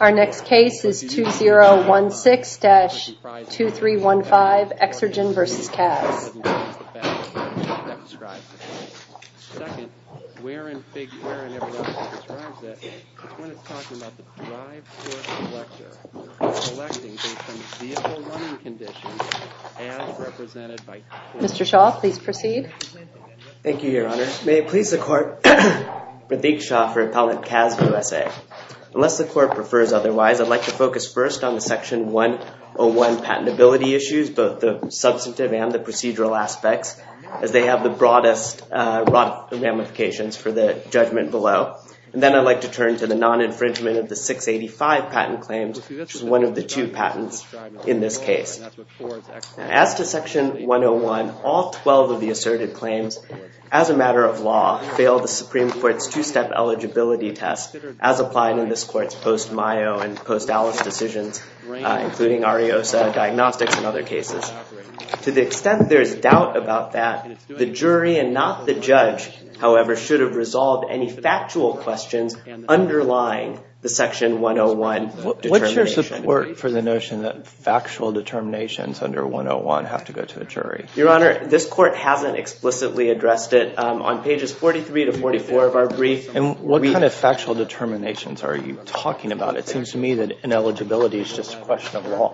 Our next case is 2016-2315, Exergen v. CAS. Mr. Shaw, please proceed. Thank you, Your Honor. May it please the Court, I'm Radeek Shaw for Appellate CAS of the USA. Unless the Court prefers otherwise, I'd like to focus first on the Section 101 patentability issues, both the substantive and the procedural aspects, as they have the broadest ramifications for the judgment below. Then I'd like to turn to the non-infringement of the 685 patent claims, which is one of the two patents in this case. As to Section 101, all 12 of the asserted claims, as a matter of law, fail the Supreme Court. To the extent there is doubt about that, the jury, and not the judge, however, should have resolved any factual questions underlying the Section 101 determination. What's your support for the notion that factual determinations under 101 have to go to a jury? Your Honor, this Court hasn't explicitly addressed it. On pages 43 to 44 of our brief... What kind of factual determinations are you talking about? It seems to me that ineligibility is just a question of law.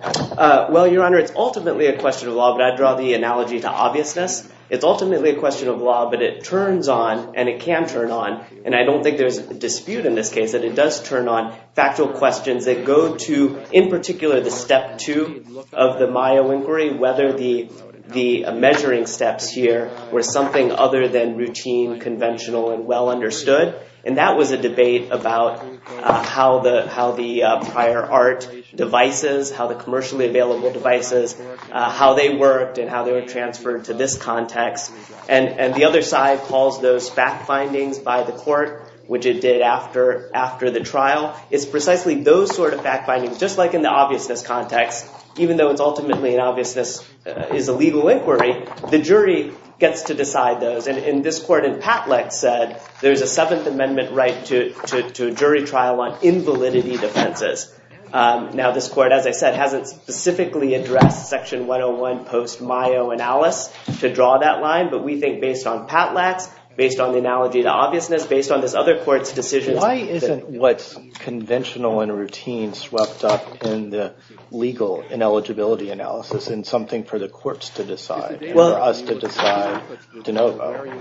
Well, Your Honor, it's ultimately a question of law, but I'd draw the analogy to obviousness. It's ultimately a question of law, but it turns on, and it can turn on, and I don't think there's a dispute in this case, that it does turn on factual questions that go to, in particular, the step two of the Mayo Inquiry, whether the measuring steps here were something other than routine, conventional, and well-understood, and that was a debate about how the prior art devices, how the commercially available devices, how they worked, and how they were transferred to this context. And the other side calls those fact findings by the court, which it did after the trial. It's precisely those sort of fact findings, just like in the obviousness context, even though it's ultimately an obviousness, is a legal inquiry, the jury gets to decide those. And this court in Patlax said there's a Seventh Amendment right to a jury trial on invalidity defenses. Now, this court, as I said, hasn't specifically addressed Section 101 post-Mayo analysis to draw that line, but we think based on Patlax, based on the analogy to obviousness, based on this other court's decision... What's conventional and routine swept up in the legal ineligibility analysis and something for the courts to decide, for us to decide to know about?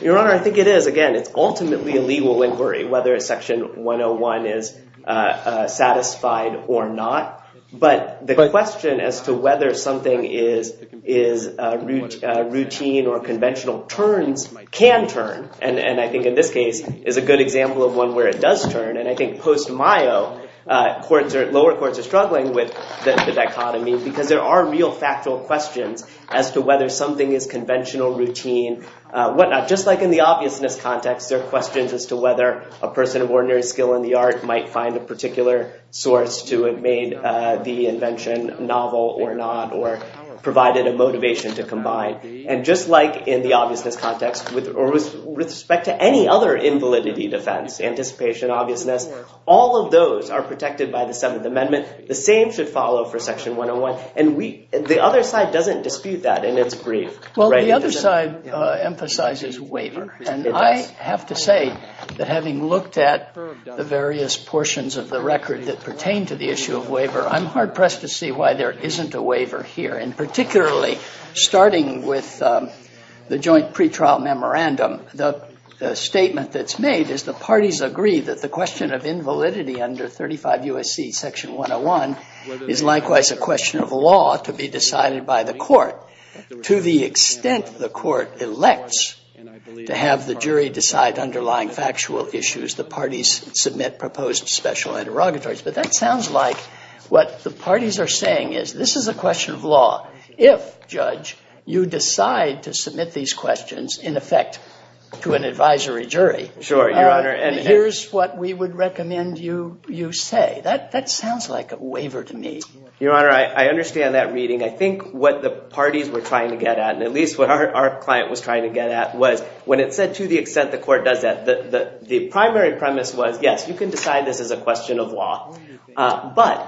Your Honor, I think it is. Again, it's ultimately a legal inquiry, whether Section 101 is satisfied or not. But the question as to whether something is routine or conventional turns, can turn, and I think in this case is a good example of one where it does turn. And I think post-Mayo, lower courts are struggling with the dichotomy because there are real factual questions as to whether something is conventional, routine, whatnot. Just like in the obviousness context, there are questions as to whether a person of ordinary skill in the art might find a particular source to have made the invention novel or not, or provided a motivation to combine. And just like in the obviousness context, or with respect to any other invalidity defense, anticipation, obviousness, all of those are protected by the Seventh Amendment. The same should follow for Section 101. And the other side doesn't dispute that in its brief. Well, the other side emphasizes waiver, and I have to say that having looked at the various portions of the record that pertain to the issue of waiver, I'm hard-pressed to see why there isn't a waiver here. And particularly, starting with the joint pretrial memorandum, the statement that's made is the parties agree that the question of invalidity under 35 U.S.C. Section 101 is likewise a question of law to be decided by the court. To the extent the court elects to have the jury decide underlying factual issues, the parties submit proposed special interrogatories. But that sounds like what the parties are saying is, this is a question of law. If, Judge, you decide to submit these questions, in effect, to an advisory jury, here's what we would recommend you say. That sounds like a waiver to me. Your Honor, I understand that reading. I think what the parties were trying to get at, and at least what our client was trying to get at, was when it said, to the extent the court does that, the primary premise was, yes, you can decide this is a question of law. But,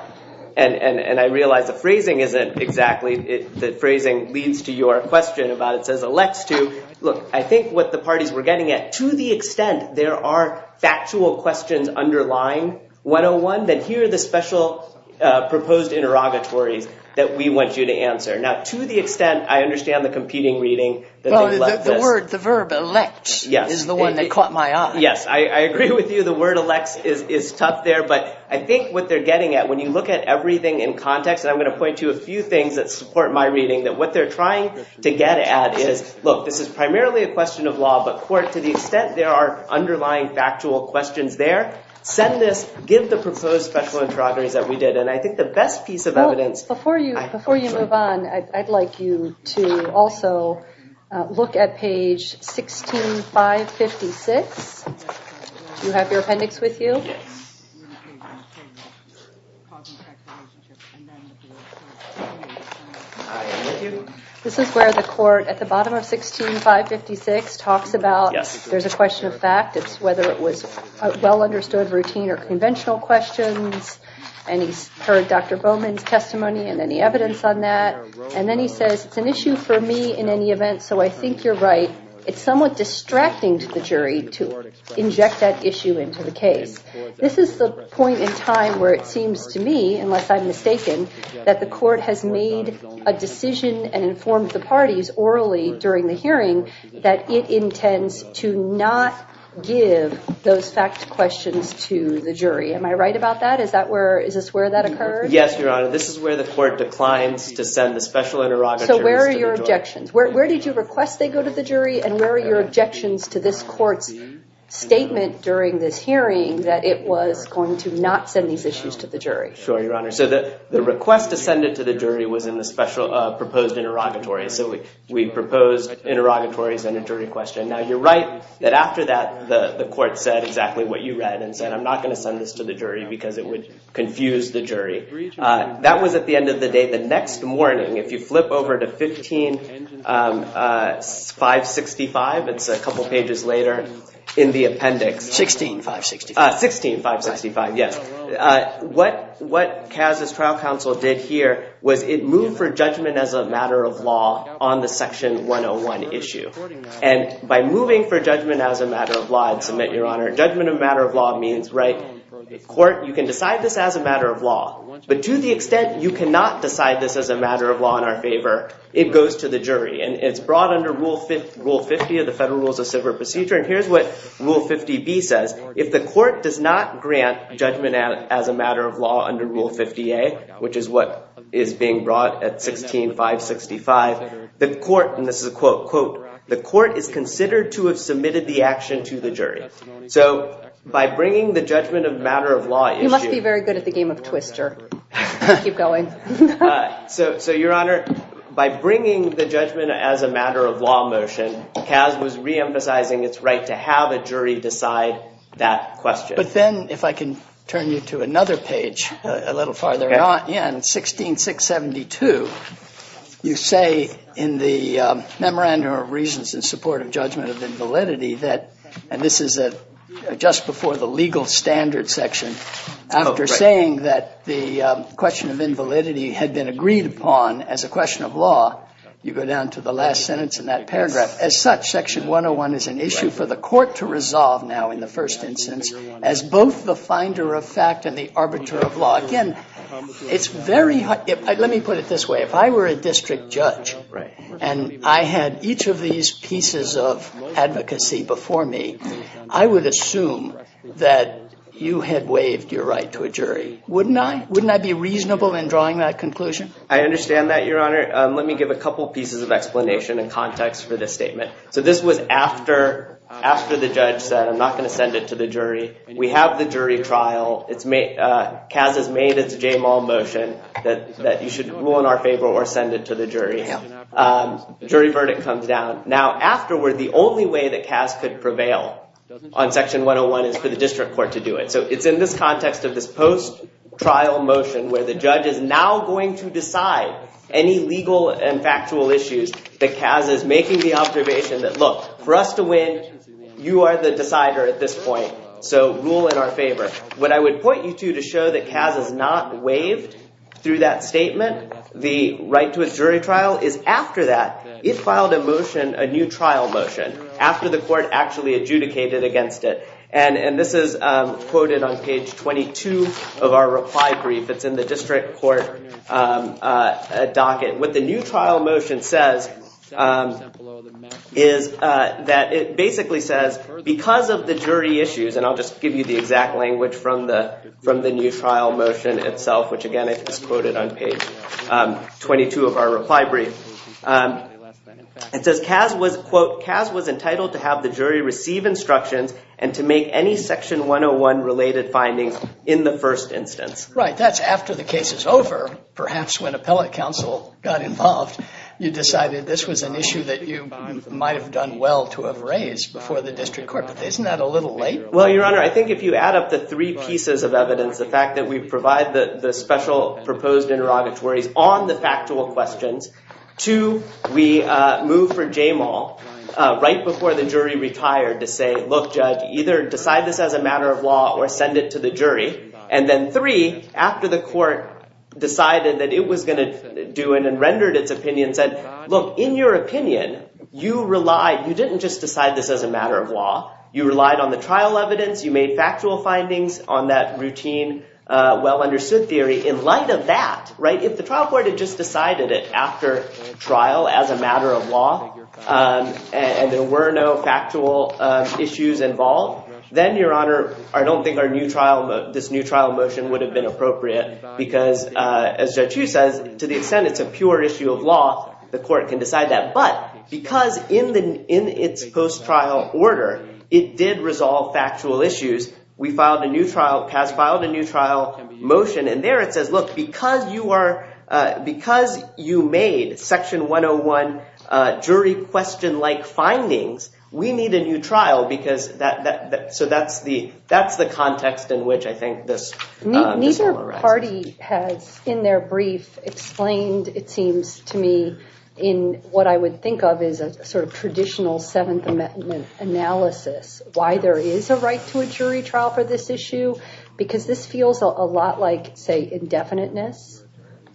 and I realize the phrasing isn't exactly, the phrasing leads to your question about it says elects to, look, I think what the parties were getting at, to the extent there are factual questions underlying 101, then here are the special proposed interrogatories that we want you to answer. Now, to the extent, I understand the competing reading, that they love this. The verb elect is the one that caught my eye. Yes. I agree with you, the word elects is tough there, but I think what they're getting at, when you look at everything in context, and I'm going to point to a few things that support my reading, that what they're trying to get at is, look, this is primarily a question of law, but court, to the extent there are underlying factual questions there, send this, give the proposed special interrogatories that we did, and I think the best piece of evidence- Look at page 16, 556, do you have your appendix with you? Yes. This is where the court, at the bottom of 16, 556, talks about, there's a question of fact, it's whether it was well understood routine or conventional questions, and he's heard Dr. Bowman's testimony and any evidence on that, and then he says, it's an issue for me in any event, so I think you're right, it's somewhat distracting to the jury to inject that issue into the case. This is the point in time where it seems to me, unless I'm mistaken, that the court has made a decision and informed the parties, orally, during the hearing, that it intends to not give those fact questions to the jury, am I right about that, is that where, is this where that occurred? Yes, your honor, this is where the court declines to send the special interrogatories- So where are your objections? Where did you request they go to the jury, and where are your objections to this court's statement during this hearing, that it was going to not send these issues to the jury? Sure, your honor, so the request to send it to the jury was in the special proposed interrogatories, so we proposed interrogatories and a jury question, now you're right that after that, the court said exactly what you read, and said, I'm not going to send this to the jury because it would confuse the jury. That was at the end of the day. The next morning, if you flip over to 15565, it's a couple pages later, in the appendix- 16565. 16565, yes. What CAS's trial counsel did here was it moved for judgment as a matter of law on the section 101 issue, and by moving for judgment as a matter of law, I'd submit, your honor, judgment of matter of law means, right, court, you can decide this as a matter of law, but to the extent you cannot decide this as a matter of law in our favor, it goes to the jury, and it's brought under Rule 50 of the Federal Rules of Civil Procedure, and here's what Rule 50B says, if the court does not grant judgment as a matter of law under Rule 50A, which is what is being brought at 16565, the court, and this is a quote, quote, the court is considered to have submitted the action to the jury. So by bringing the judgment of matter of law issue- You must be very good at the game of Twister. Keep going. So, your honor, by bringing the judgment as a matter of law motion, CAS was reemphasizing its right to have a jury decide that question. But then, if I can turn you to another page a little farther on, yeah, in 16672, you say in the Memorandum of Reasons in Support of Judgment of Invalidity that, and this is just before the legal standard section, after saying that the question of invalidity had been agreed upon as a question of law, you go down to the last sentence in that paragraph, as such, section 101 is an issue for the court to resolve now in the first instance as both the finder of fact and the arbiter of law. Again, it's very hard, let me put it this way, if I were a district judge and I had each of these pieces of advocacy before me, I would assume that you had waived your right to a jury, wouldn't I? Wouldn't I be reasonable in drawing that conclusion? I understand that, your honor. Let me give a couple pieces of explanation and context for this statement. So this was after the judge said, I'm not going to send it to the jury. We have the jury trial. CAS has made its JMAL motion that you should rule in our favor or send it to the jury. Jury verdict comes down. Now, afterward, the only way that CAS could prevail on section 101 is for the district court to do it. So it's in this context of this post-trial motion where the judge is now going to decide any legal and factual issues that CAS is making the observation that, look, for us to win, you are the decider at this point, so rule in our favor. What I would point you to show that CAS has not waived through that statement, the right to a jury trial, is after that, it filed a motion, a new trial motion, after the court actually adjudicated against it. And this is quoted on page 22 of our reply brief. It's in the district court docket. What the new trial motion says is that it basically says, because of the jury issues, and I'll just give you the exact language from the new trial motion itself, which again is quoted on page 22 of our reply brief, it says CAS was, quote, CAS was entitled to have the jury receive instructions and to make any section 101 related findings in the first instance. Right. That's after the case is over, perhaps when appellate counsel got involved, you decided this was an issue that you might have done well to have raised before the district court. But isn't that a little late? Well, Your Honor, I think if you add up the three pieces of evidence, the fact that we provide the special proposed interrogatories on the factual questions, two, we move for JMAL right before the jury retired to say, look, judge, either decide this as a matter of law or send it to the jury, and then three, after the court decided that it was going to do it and rendered its opinion, said, look, in your opinion, you relied, you didn't just decide this as a matter of law. You relied on the trial evidence. You made factual findings on that routine, well-understood theory. In light of that, right, if the trial court had just decided it after trial as a matter of law and there were no factual issues involved, then, Your Honor, I don't think our new trial, this new trial motion would have been appropriate because, as Judge Hu says, to the extent it's a pure issue of law, the court can decide that. But because in its post-trial order, it did resolve factual issues, we filed a new trial, has filed a new trial motion, and there it says, look, because you are, because you made section 101 jury question-like findings, we need a new trial because that, so that's the context in which I think this, this will arise. The party has, in their brief, explained, it seems to me, in what I would think of as a sort of traditional Seventh Amendment analysis, why there is a right to a jury trial for this issue because this feels a lot like, say, indefiniteness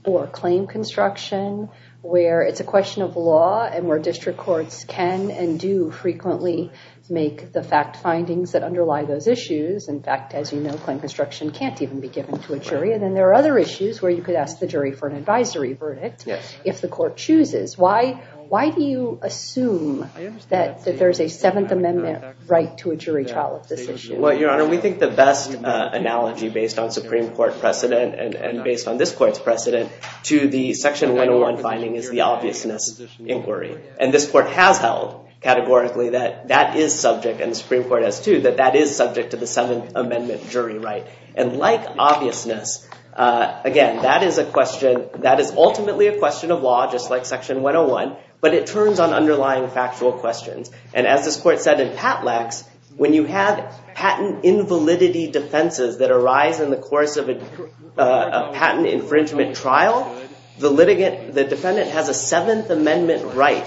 or claim construction where it's a question of law and where district courts can and do frequently make the fact findings that underlie those issues. In fact, as you know, claim construction can't even be given to a jury. And then there are other issues where you could ask the jury for an advisory verdict if the court chooses. Why do you assume that there is a Seventh Amendment right to a jury trial of this issue? Well, Your Honor, we think the best analogy based on Supreme Court precedent and based on this court's precedent to the section 101 finding is the obviousness inquiry. And this court has held categorically that that is subject, and the Supreme Court has held categorically that that is subject to the Seventh Amendment jury right. And like obviousness, again, that is ultimately a question of law, just like section 101, but it turns on underlying factual questions. And as this court said in Patlax, when you have patent invalidity defenses that arise in the course of a patent infringement trial, the defendant has a Seventh Amendment right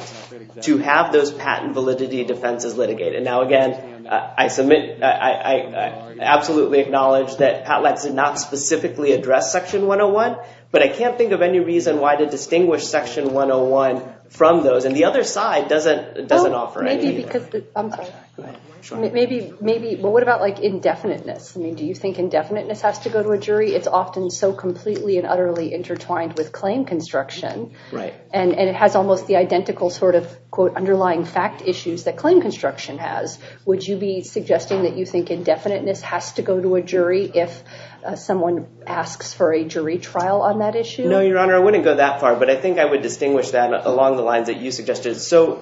to have those patent validity defenses litigated. And now, again, I submit, I absolutely acknowledge that Patlax did not specifically address section 101, but I can't think of any reason why to distinguish section 101 from those. And the other side doesn't offer any. Maybe because, I'm sorry, maybe, well, what about like indefiniteness? I mean, do you think indefiniteness has to go to a jury? It's often so completely and utterly intertwined with claim construction, and it has almost the identical sort of, quote, underlying fact issues that claim construction has. Would you be suggesting that you think indefiniteness has to go to a jury if someone asks for a jury trial on that issue? No, Your Honor, I wouldn't go that far, but I think I would distinguish that along the lines that you suggested. It's so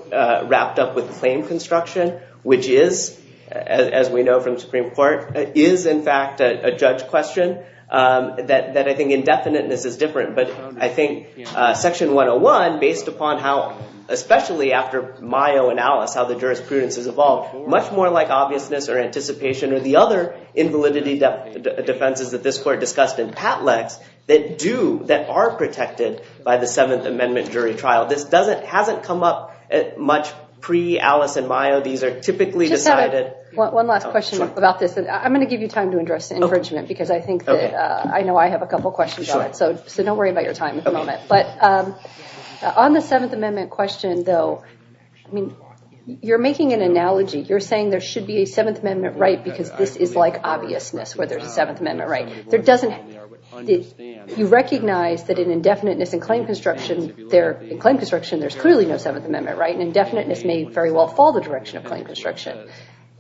wrapped up with claim construction, which is, as we know from Supreme Court, is in fact a judge question that I think indefiniteness is different. But I think section 101, based upon how, especially after Mayo and Alice, how the jurisprudence has evolved, much more like obviousness or anticipation or the other invalidity defenses that this court discussed in Patlax that do, that are protected by the Seventh Amendment jury trial. This hasn't come up much pre-Alice and Mayo. These are typically decided. One last question about this. I'm going to give you time to address infringement because I think that I know I have a couple questions on it. So don't worry about your time at the moment. On the Seventh Amendment question, though, you're making an analogy. You're saying there should be a Seventh Amendment right because this is like obviousness, where there's a Seventh Amendment right. You recognize that in indefiniteness and claim construction, there's clearly no Seventh Amendment right. And indefiniteness may very well fall the direction of claim construction.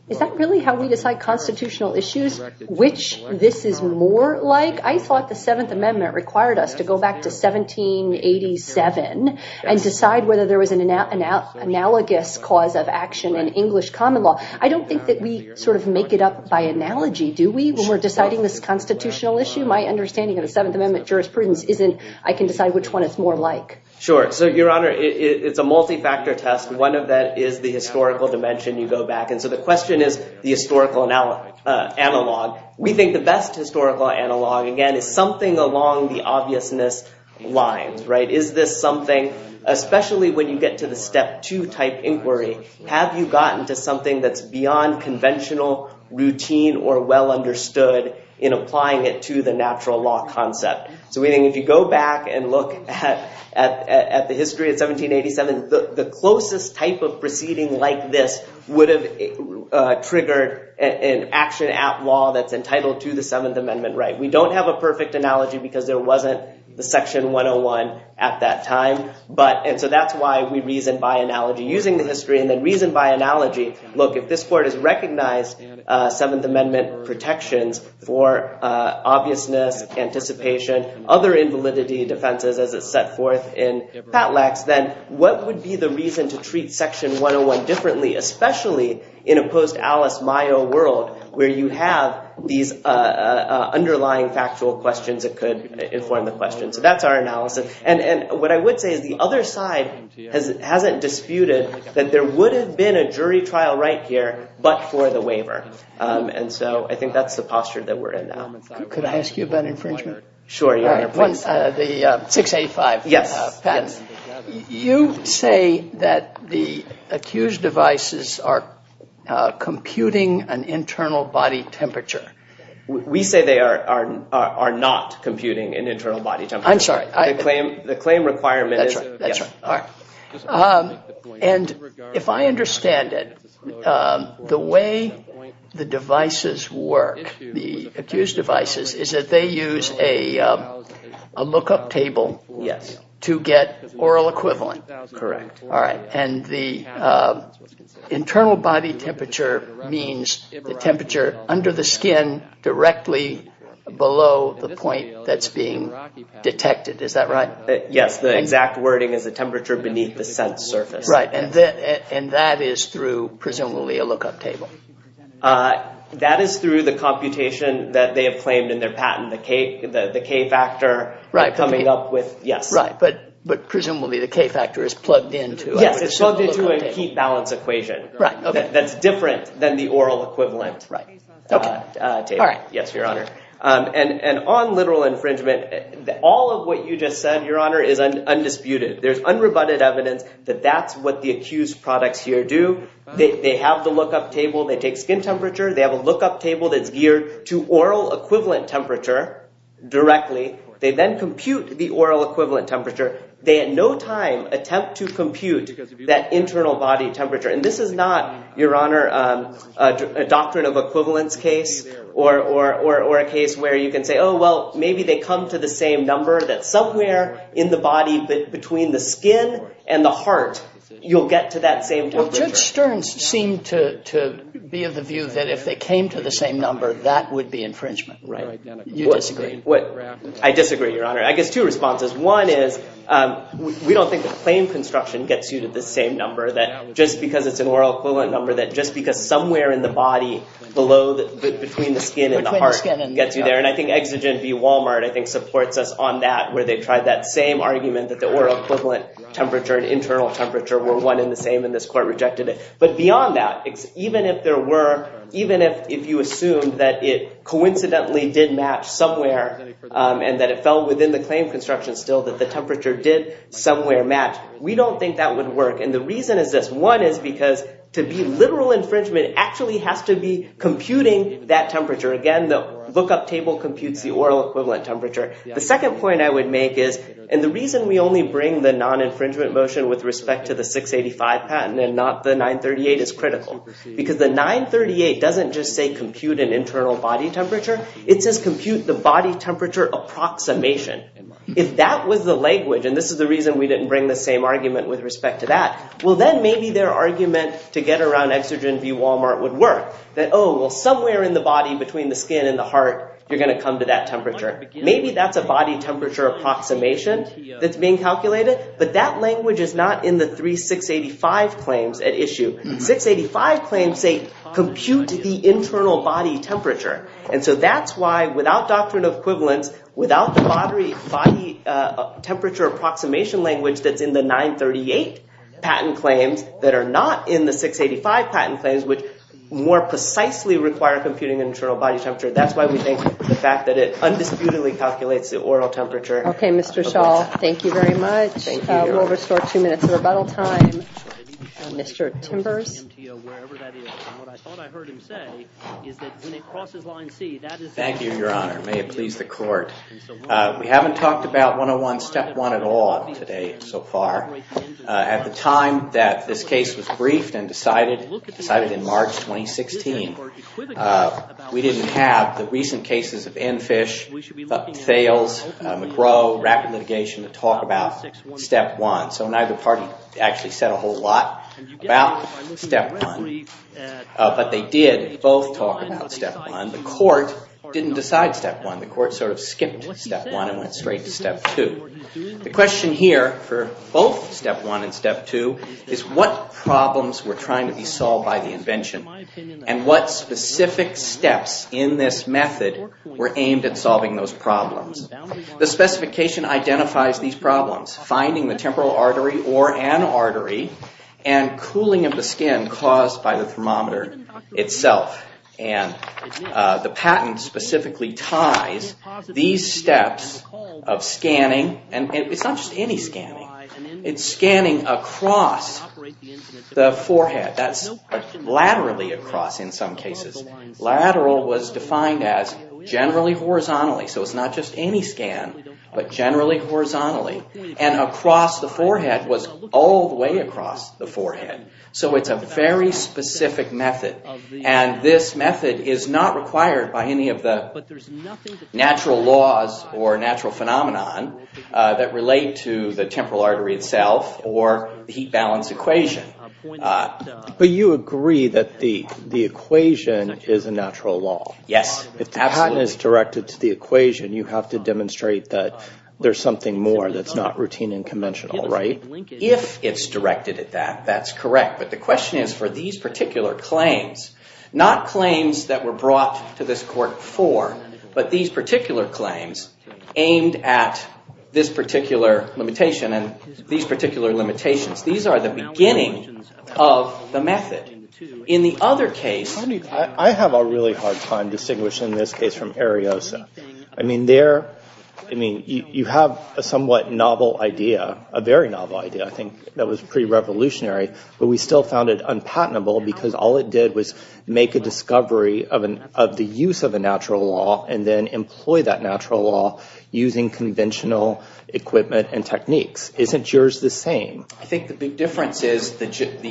Is that really how we decide constitutional issues, which this is more like? I thought the Seventh Amendment required us to go back to 1787 and decide whether there was an analogous cause of action in English common law. I don't think that we sort of make it up by analogy, do we, when we're deciding this constitutional issue? My understanding of the Seventh Amendment jurisprudence isn't, I can decide which one is more like. Sure. So, Your Honor, it's a multi-factor test. One of that is the historical dimension. You go back. And so the question is the historical analog. We think the best historical analog, again, is something along the obviousness lines, right? Is this something, especially when you get to the step two type inquiry, have you gotten to something that's beyond conventional routine or well understood in applying it to the natural law concept? So, we think if you go back and look at the history of 1787, the closest type of proceeding like this would have triggered an action at law that's entitled to the Seventh Amendment, right? We don't have a perfect analogy because there wasn't the Section 101 at that time, but, and so that's why we reasoned by analogy using the history and then reasoned by analogy. Look, if this court has recognized Seventh Amendment protections for obviousness, anticipation, other invalidity defenses as it's set forth in Patlax, then what would be the reason to act differently, especially in a post-Alice Mayo world where you have these underlying factual questions that could inform the question? So that's our analysis. And what I would say is the other side hasn't disputed that there would have been a jury trial right here, but for the waiver. And so I think that's the posture that we're in now. Could I ask you about infringement? Sure. 685. Yes. Pat, you say that the accused devices are computing an internal body temperature. We say they are not computing an internal body temperature. I'm sorry. The claim requirement is- That's right. That's right. All right. And if I understand it, the way the devices work, the accused devices, is that they use a lookup table to get oral equivalent. Correct. All right. And the internal body temperature means the temperature under the skin directly below the point that's being detected. Is that right? Yes. The exact wording is the temperature beneath the sense surface. Right. And that is through, presumably, a lookup table. That is through the computation that they have claimed in their patent, the K factor coming up with- Right. Yes. Right. But presumably, the K factor is plugged into- Yes. It's plugged into a heat balance equation. Right. Okay. That's different than the oral equivalent. Right. Okay. All right. Yes, Your Honor. And on literal infringement, all of what you just said, Your Honor, is undisputed. There's unrebutted evidence that that's what the accused products here do. They have the lookup table. They take skin temperature. They have a lookup table that's geared to oral equivalent temperature directly. They then compute the oral equivalent temperature. They at no time attempt to compute that internal body temperature. And this is not, Your Honor, a doctrine of equivalence case or a case where you can say, oh, well, maybe they come to the same number that somewhere in the body between the skin and the heart, you'll get to that same temperature. Well, Judge Stern seemed to be of the view that if they came to the same number, that would be infringement. Right. You disagree. I disagree, Your Honor. I guess two responses. One is we don't think the claim construction gets you to the same number that just because it's an oral equivalent number that just because somewhere in the body below, between the skin and the heart gets you there. And I think exigent v. Walmart, I think, supports us on that where they tried that same argument that the oral equivalent temperature and internal temperature were one and the same and this court rejected it. But beyond that, even if you assumed that it coincidentally did match somewhere and that it fell within the claim construction still that the temperature did somewhere match, we don't think that would work. And the reason is this. One is because to be literal infringement actually has to be computing that temperature. Again, the lookup table computes the oral equivalent temperature. The second point I would make is, and the reason we only bring the non-infringement motion with respect to the 685 patent and not the 938 is critical. Because the 938 doesn't just say compute an internal body temperature. It says compute the body temperature approximation. If that was the language, and this is the reason we didn't bring the same argument with respect to that, well then maybe their argument to get around exigent v. Walmart would work. That, oh, well somewhere in the body between the skin and the heart you're going to come to that temperature. Maybe that's a body temperature approximation that's being calculated. But that language is not in the three 685 claims at issue. 685 claims say compute the internal body temperature. And so that's why without doctrine of equivalence, without the body temperature approximation language that's in the 938 patent claims that are not in the 685 patent claims, which more precisely require computing an internal body temperature, that's why we think the fact that it undisputedly calculates the oral temperature. OK, Mr. Schall, thank you very much. We'll restore two minutes of rebuttal time. Mr. Timbers. Thank you, Your Honor. May it please the court. We haven't talked about 101 step one at all today so far. At the time that this case was briefed and decided in March 2016, we didn't have the rapid litigation to talk about step one. So neither party actually said a whole lot about step one. But they did both talk about step one. The court didn't decide step one. The court sort of skipped step one and went straight to step two. The question here for both step one and step two is what problems were trying to be solved by the invention and what specific steps in this method were aimed at solving those problems. The specification identifies these problems, finding the temporal artery or an artery and cooling of the skin caused by the thermometer itself. The patent specifically ties these steps of scanning, and it's not just any scanning, it's scanning across the forehead, that's laterally across in some cases. Lateral was defined as generally horizontally, so it's not just any scan, but generally horizontally. And across the forehead was all the way across the forehead. So it's a very specific method. And this method is not required by any of the natural laws or natural phenomenon that relate to the temporal artery itself or heat balance equation. But you agree that the equation is a natural law. Yes, absolutely. If the patent is directed to the equation, you have to demonstrate that there's something more that's not routine and conventional, right? If it's directed at that, that's correct. But the question is for these particular claims, not claims that were brought to this court before, but these particular claims aimed at this particular limitation and these particular limitations of the method. In the other case... I have a really hard time distinguishing this case from Ariosa. I mean, you have a somewhat novel idea, a very novel idea, I think, that was pre-revolutionary, but we still found it unpatentable because all it did was make a discovery of the use of a natural law and then employ that natural law using conventional equipment and techniques. Isn't yours the same? I think the big difference is the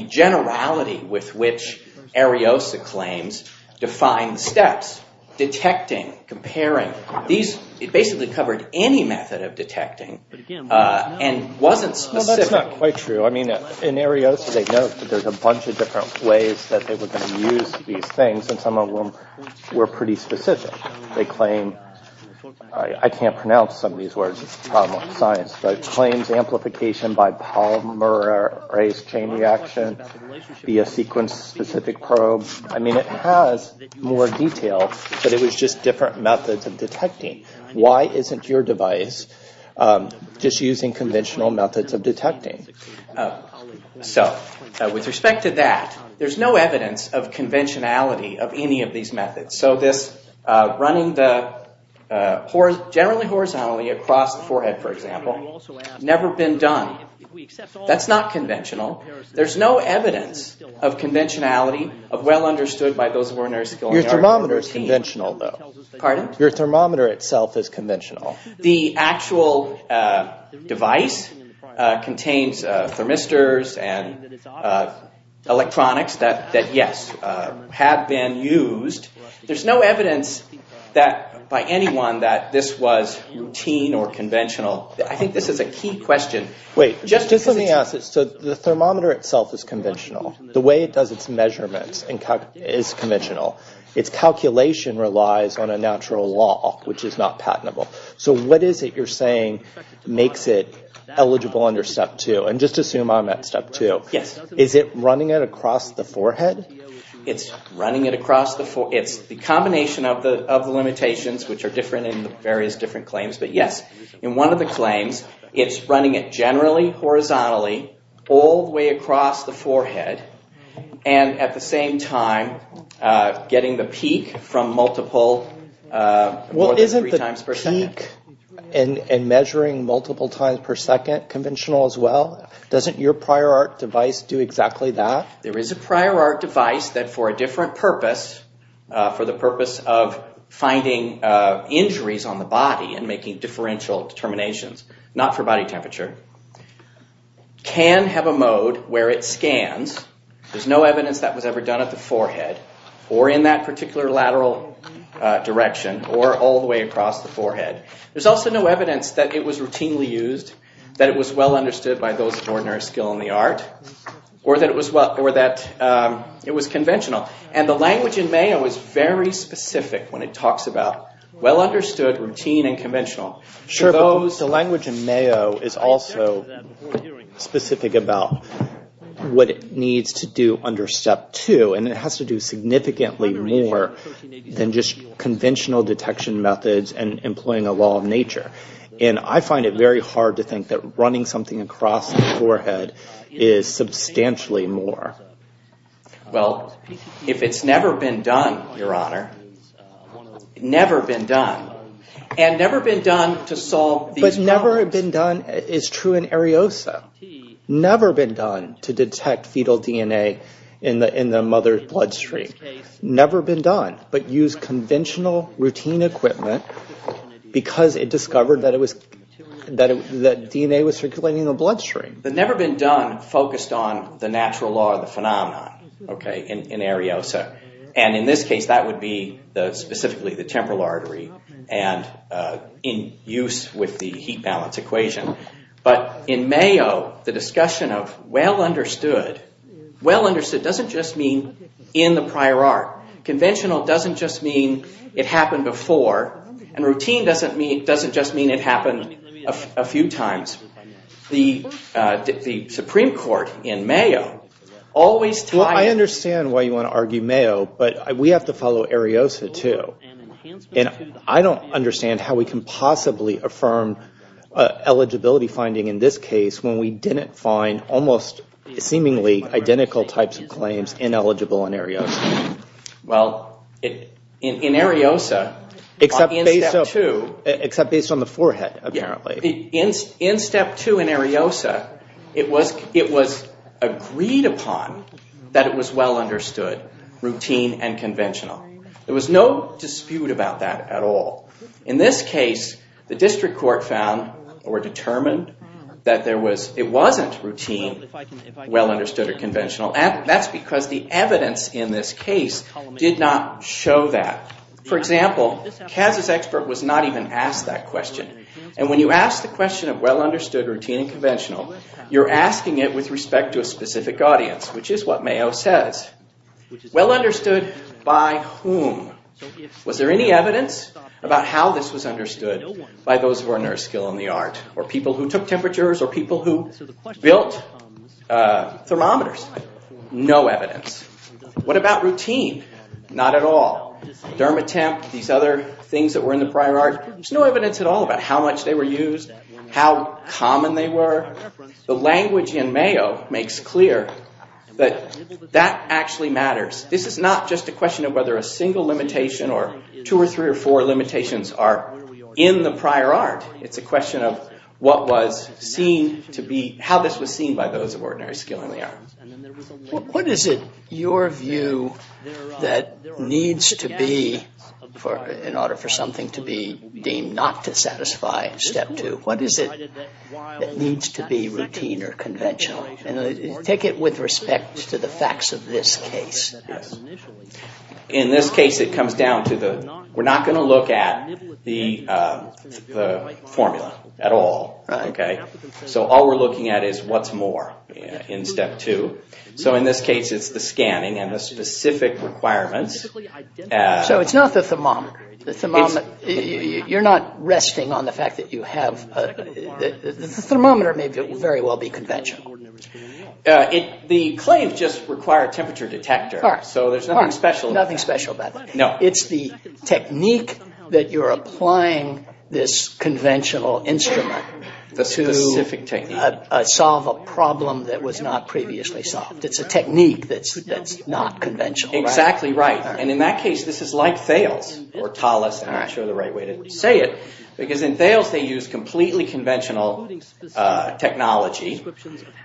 generality with which Ariosa claims define steps, detecting, comparing. These basically covered any method of detecting and wasn't specific. Well, that's not quite true. I mean, in Ariosa, they note that there's a bunch of different ways that they were going to use these things, and some of them were pretty specific. They claim... I can't pronounce some of these words. It's a problem of science. But it claims amplification by polymer-based chain reaction via sequence-specific probes. I mean, it has more detail, but it was just different methods of detecting. Why isn't your device just using conventional methods of detecting? So, with respect to that, there's no evidence of conventionality of any of these methods. So, this running generally horizontally across the forehead, for example, never been done. That's not conventional. There's no evidence of conventionality, of well understood by those of ordinary skill... Your thermometer is conventional though. Pardon? Your thermometer itself is conventional. The actual device contains thermistors and electronics that, yes, have been used There's no evidence by anyone that this was routine or conventional. I think this is a key question. Wait, just let me ask this. So, the thermometer itself is conventional. The way it does its measurements is conventional. Its calculation relies on a natural law, which is not patentable. So, what is it you're saying makes it eligible under Step 2? And just assume I'm at Step 2. Is it running it across the forehead? It's running it across the forehead. It's the combination of the limitations, which are different in various different claims. But yes, in one of the claims, it's running it generally horizontally all the way across the forehead. And at the same time, getting the peak from multiple, more than three times per second. Well, isn't the peak and measuring multiple times per second conventional as well? Doesn't your prior art device do exactly that? There is a prior art device that, for a different purpose, for the purpose of finding injuries on the body and making differential determinations, not for body temperature, can have a mode where it scans. There's no evidence that was ever done at the forehead, or in that particular lateral direction, or all the way across the forehead. There's also no evidence that it was routinely used, that it was well understood by those of ordinary skill in the art, or that it was conventional. And the language in Mayo is very specific when it talks about well understood, routine, and conventional. Sure, but the language in Mayo is also specific about what it needs to do under Step 2. And it has to do significantly more than just conventional detection methods and employing a law of nature. And I find it very hard to think that running something across the forehead is substantially more. Well, if it's never been done, Your Honor, never been done. And never been done to solve these problems. But never been done is true in Ariosa. Never been done to detect fetal DNA in the mother's bloodstream. Never been done. But use conventional routine equipment because it discovered that DNA was circulating in the bloodstream. Never been done focused on the natural law of the phenomenon in Ariosa. And in this case, that would be specifically the temporal artery and in use with the heat balance equation. But in Mayo, the discussion of well understood, well understood doesn't just mean in the prior art. Conventional doesn't just mean it happened before. And routine doesn't just mean it happened a few times. The Supreme Court in Mayo always tied... Well, I understand why you want to argue Mayo, but we have to follow Ariosa too. And I don't understand how we can possibly affirm eligibility finding in this case when we didn't find almost seemingly identical types of claims ineligible in Ariosa. Except based on the forehead, apparently. In step two in Ariosa, it was agreed upon that it was well understood, routine and conventional. There was no dispute about that at all. In this case, the district court found or determined that it wasn't routine, well understood or conventional. And that's because the evidence in this case did not show that. For example, Kaz's expert was not even asked that question. And when you ask the question of well understood, routine and conventional, you're asking it with respect to a specific audience, which is what Mayo says. Well understood by whom? Was there any evidence about how this was understood by those of ordinary skill in the art? Or people who took temperatures or people who built thermometers? No evidence. What about routine? Not at all. Dermatemp, these other things that were in the prior art, there's no evidence at all about how much they were used, how common they were. The language in Mayo makes clear that that actually matters. This is not just a question of whether a single limitation or two or three or four limitations are in the prior art. It's a question of what was seen to be, how this was seen by those of ordinary skill in the art. What is it, your view, that needs to be in order for something to be deemed not to satisfy in Step 2? What is it that needs to be routine or conventional? Take it with respect to the facts of this case. In this case it comes down to the, we're not going to look at the formula at all. So all we're looking at is what's more in Step 2. So in this case it's the scanning and the specific requirements. So it's not the thermometer. You're not resting on the fact that you have, the thermometer may very well be conventional. The claims just require a temperature detector, so there's nothing special about that. It's the technique that you're applying this conventional instrument to solve a problem that was not previously solved. It's a technique that's not conventional. Exactly right. And in that case this is like Thales or Thales, I'm not sure the right way to say it. Because in Thales they use completely conventional technology.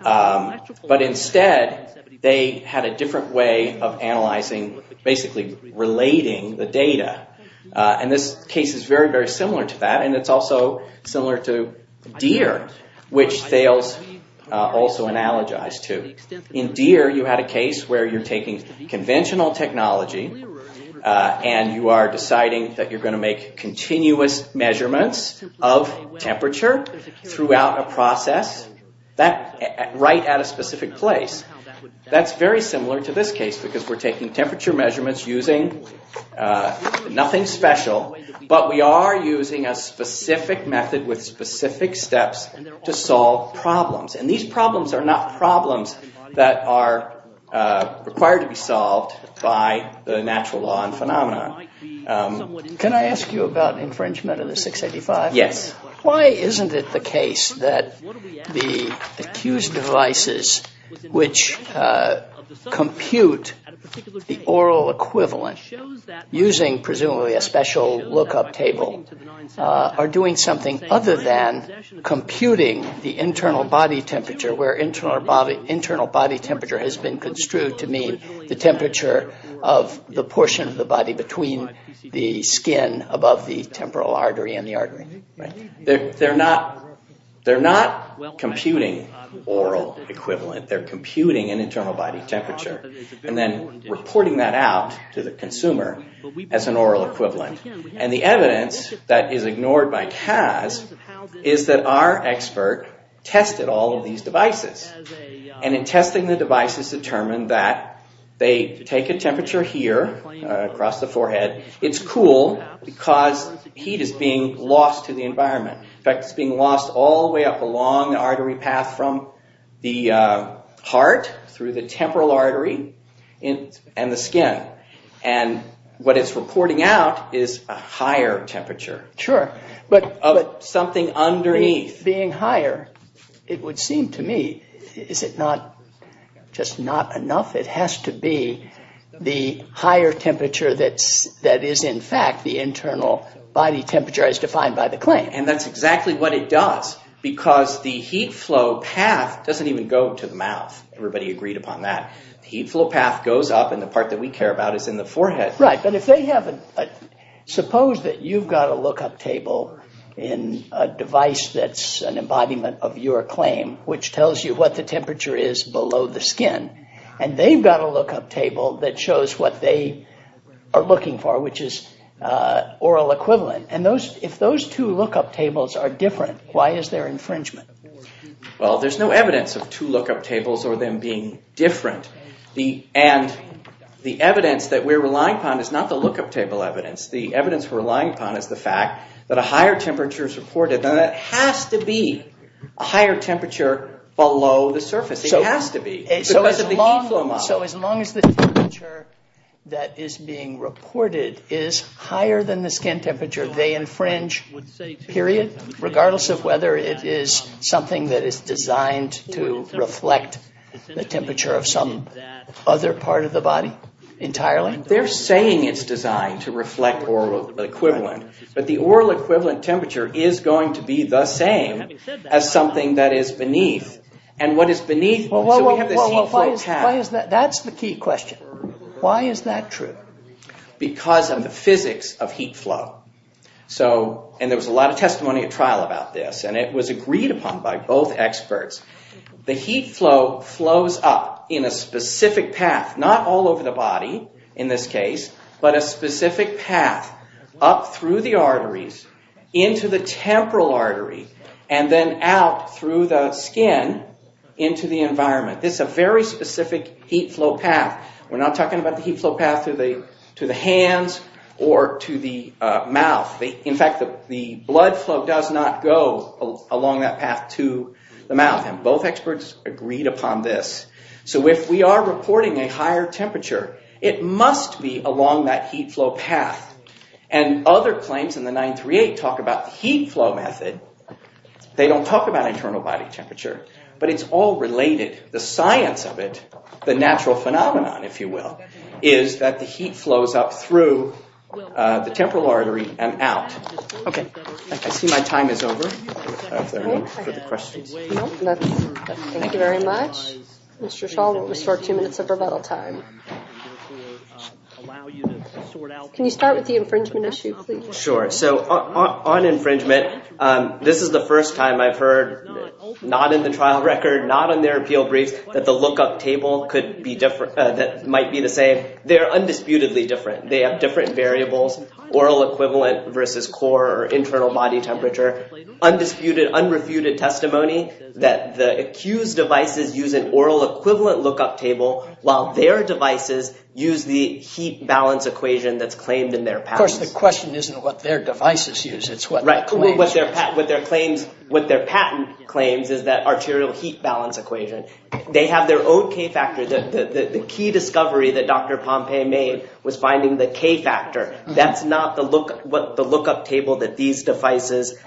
But instead they had a different way of analyzing, basically relating the data. And this case is very, very similar to that. And it's also similar to Deere, which Thales also analogized to. In Deere you had a case where you're taking conventional technology and you are deciding that you're going to make continuous measurements of temperature throughout a process, right at a specific place. That's very similar to this case, because we're taking temperature measurements using nothing special, but we are using a specific method with specific steps to solve problems. And these problems are not problems that are required to be solved by the natural law and phenomena. Can I ask you about infringement of the 685? Yes. Why isn't it the case that the accused devices which compute the oral equivalent, using presumably a special lookup table, are doing something other than computing the internal body temperature, where internal body temperature has been construed to mean the temperature of the portion of the body between the skin above the temporal artery and the artery? They're not computing oral equivalent. They're computing an internal body temperature, and then reporting that out to the consumer as an oral equivalent. And the evidence that is ignored by CAS is that our expert tested all of these devices. And in testing the devices determined that they take a temperature here, across the forehead, it's cool because heat is being lost to the environment. In fact, it's being lost all the way up along the artery path from the heart through the temporal artery and the skin. And what it's reporting out is a higher temperature. Sure. Of something underneath. Being higher, it would seem to me, is it not just not enough? It has to be the higher temperature that is in fact the internal body temperature as defined by the claim. And that's exactly what it does. Because the heat flow path doesn't even go to the mouth. Everybody agreed upon that. Heat flow path goes up and the part that we care about is in the forehead. Right, but if they have a... Suppose that you've got a look-up table in a device that's an embodiment of your claim, which tells you what the temperature is below the skin. And they've got a look-up table that shows what they are looking for, which is oral equivalent. And if those two look-up tables are different, why is there infringement? Well, there's no evidence of two look-up tables or them being different. And the evidence that we're relying upon is not the look-up table evidence. The evidence we're relying upon is the fact that a higher temperature is reported. Now that has to be a higher temperature below the surface. It has to be. So as long as the temperature that is being reported is higher than the skin temperature, they infringe, period, regardless of whether it is something that is designed to reflect the temperature of some other part of the body entirely? They're saying it's designed to reflect oral equivalent, but the oral equivalent temperature is going to be the same as something that is beneath. And what is beneath... Well, why is that? That's the key question. Why is that true? Because of the physics of heat flow. And there was a lot of testimony at trial about this, and it was agreed upon by both experts. The heat flow flows up in a specific path, not all over the body in this case, but a specific path up through the arteries, into the temporal artery, and then out through the skin into the environment. This is a very specific heat flow path. We're not talking about the heat flow path to the hands or to the mouth. In fact, the blood flow does not go along that path to the mouth. And both experts agreed upon this. So if we are reporting a higher temperature, it must be along that heat flow path. And other claims in the 938 talk about the heat flow method. They don't talk about internal body temperature. But it's all related. The science of it, the natural phenomenon, if you will, is that the heat flows up through the temporal artery and out. I see my time is over. Thank you very much. Mr. Shaw will restore two minutes of rebuttal time. Can you start with the infringement issue, please? On infringement, this is the first time I've heard, not in the trial record, not in their appeal briefs, that the lookup table might be the same. They are undisputedly different. They have different variables, oral equivalent versus core or internal body temperature. Undisputed, unrefuted testimony that the accused devices use an oral equivalent lookup table while their devices use the heat balance equation that's claimed in their patents. Of course, the question isn't what their devices use. What their patent claims is that arterial heat balance equation. They have their own k-factor. The key discovery that Dr. Pompei made was finding the k-factor. That's not what the lookup table that these accused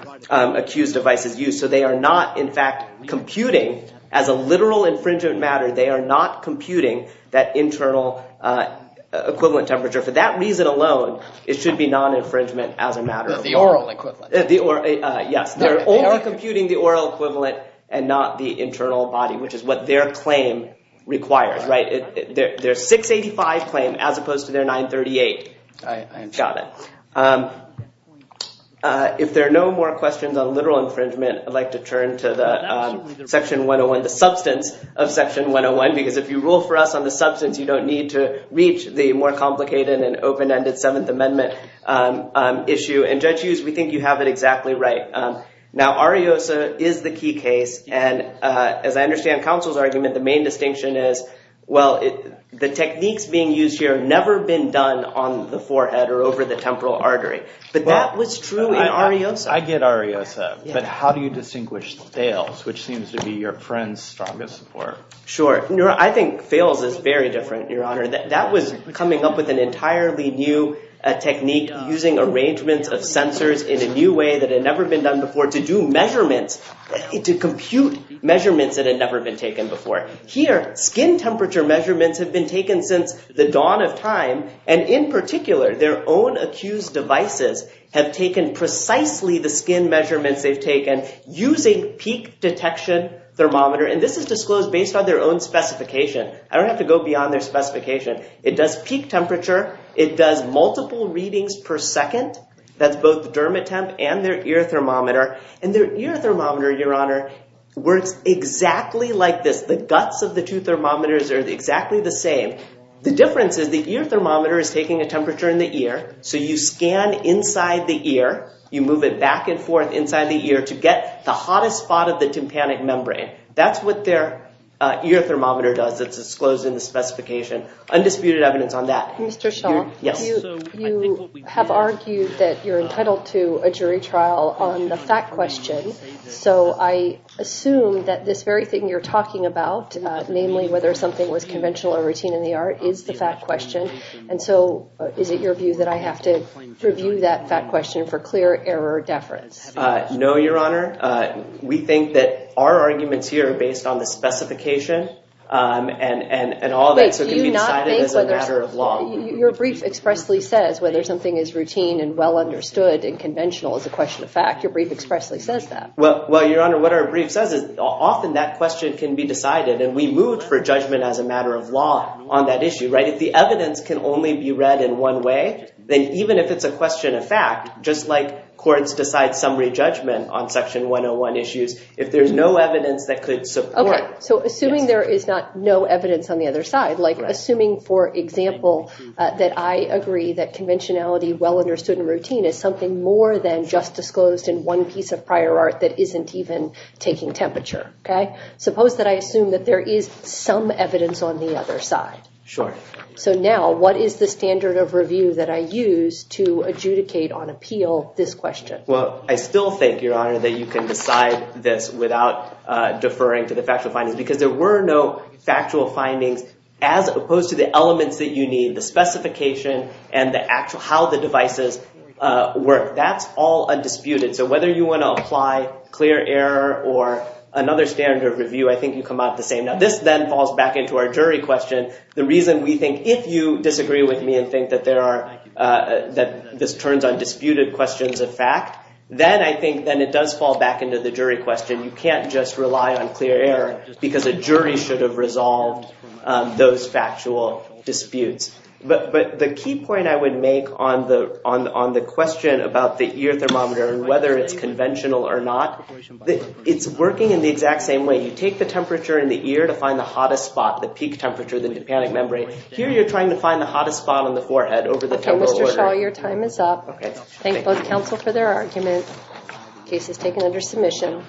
devices use. So they are not, in fact, computing as a literal infringement matter. They are not computing that internal equivalent temperature. For that reason alone, it should be non-infringement as a matter of law. They are only computing the oral equivalent and not the internal body, which is what their claim requires. Their 685 claim as opposed to their 938. If there are no more questions on literal infringement, I'd like to turn to the substance of Section 101. Because if you rule for us on the substance, you don't need to reach the more complicated and open-ended 7th Amendment issue. Judge Hughes, we think you have it exactly right. Ariosa is the key case. As I understand counsel's argument, the main distinction is the techniques being used here have never been done on the forehead or over the temporal artery. But that was true in Ariosa. I get Ariosa, but how do you distinguish fails, which seems to be your friend's strongest support? Sure. I think fails is very different, Your Honor. That was coming up with an entirely new technique using arrangements of sensors in a new way that had never been done before to do measurements, to compute measurements that had never been taken before. Here, skin temperature measurements have been taken since the dawn of time. And in particular, their own accused devices have taken precisely the skin measurements they've taken using peak detection thermometer. And this is disclosed based on their own specification. I don't have to go beyond their specification. It does peak temperature. It does multiple readings per second. That's both the Dermatemp and their ear thermometer. And their ear thermometer, Your Honor, works exactly like this. The guts of the two thermometers are exactly the same. The difference is the ear thermometer is taking a temperature in the ear. So you scan inside the ear. You move it back and forth inside the ear to get the hottest spot of the tympanic membrane. That's what their ear thermometer does. It's disclosed in the specification. Undisputed evidence on that. You have argued that you're entitled to a jury trial on the fact question. So I assume that this very thing you're talking about, namely whether something was conventional or routine in the art, is the fact question. And so is it your view that I have to review that fact question for clear error deference? No, Your Honor. We think that our arguments here are based on the specification and all of that. So it can be decided as a matter of law. Your brief expressly says whether something is routine and well understood and conventional is a question of fact. Well, Your Honor, what our brief says is often that question can be decided and we move for judgment as a matter of law on that issue. If the evidence can only be read in one way, then even if it's a question of fact, just like courts decide summary judgment on Section 101 issues, if there's no evidence that could support... So assuming there is no evidence on the other side, like assuming, for example, that I agree that there is evidence that's disclosed in one piece of prior art that isn't even taking temperature. Suppose that I assume that there is some evidence on the other side. So now, what is the standard of review that I use to adjudicate on appeal this question? Well, I still think, Your Honor, that you can decide this without deferring to the factual findings because there were no factual findings as opposed to the elements that you need, the specification and how the devices work. That's all undisputed. So whether you want to apply clear error or another standard of review, I think you come out the same. Now, this then falls back into our jury question. The reason we think, if you disagree with me and think that this turns on disputed questions of fact, then I think it does fall back into the jury question. You can't just rely on clear error because a jury should have resolved those factual disputes. But the key point I would make on the question about the ear thermometer and whether it's conventional or not, it's working in the exact same way. You take the temperature in the ear to find the hottest spot, the peak temperature, the tympanic membrane. Here, you're trying to find the hottest spot on the forehead over the temporal order. Your time is up. Thank both counsel for their arguments. The case is taken under submission.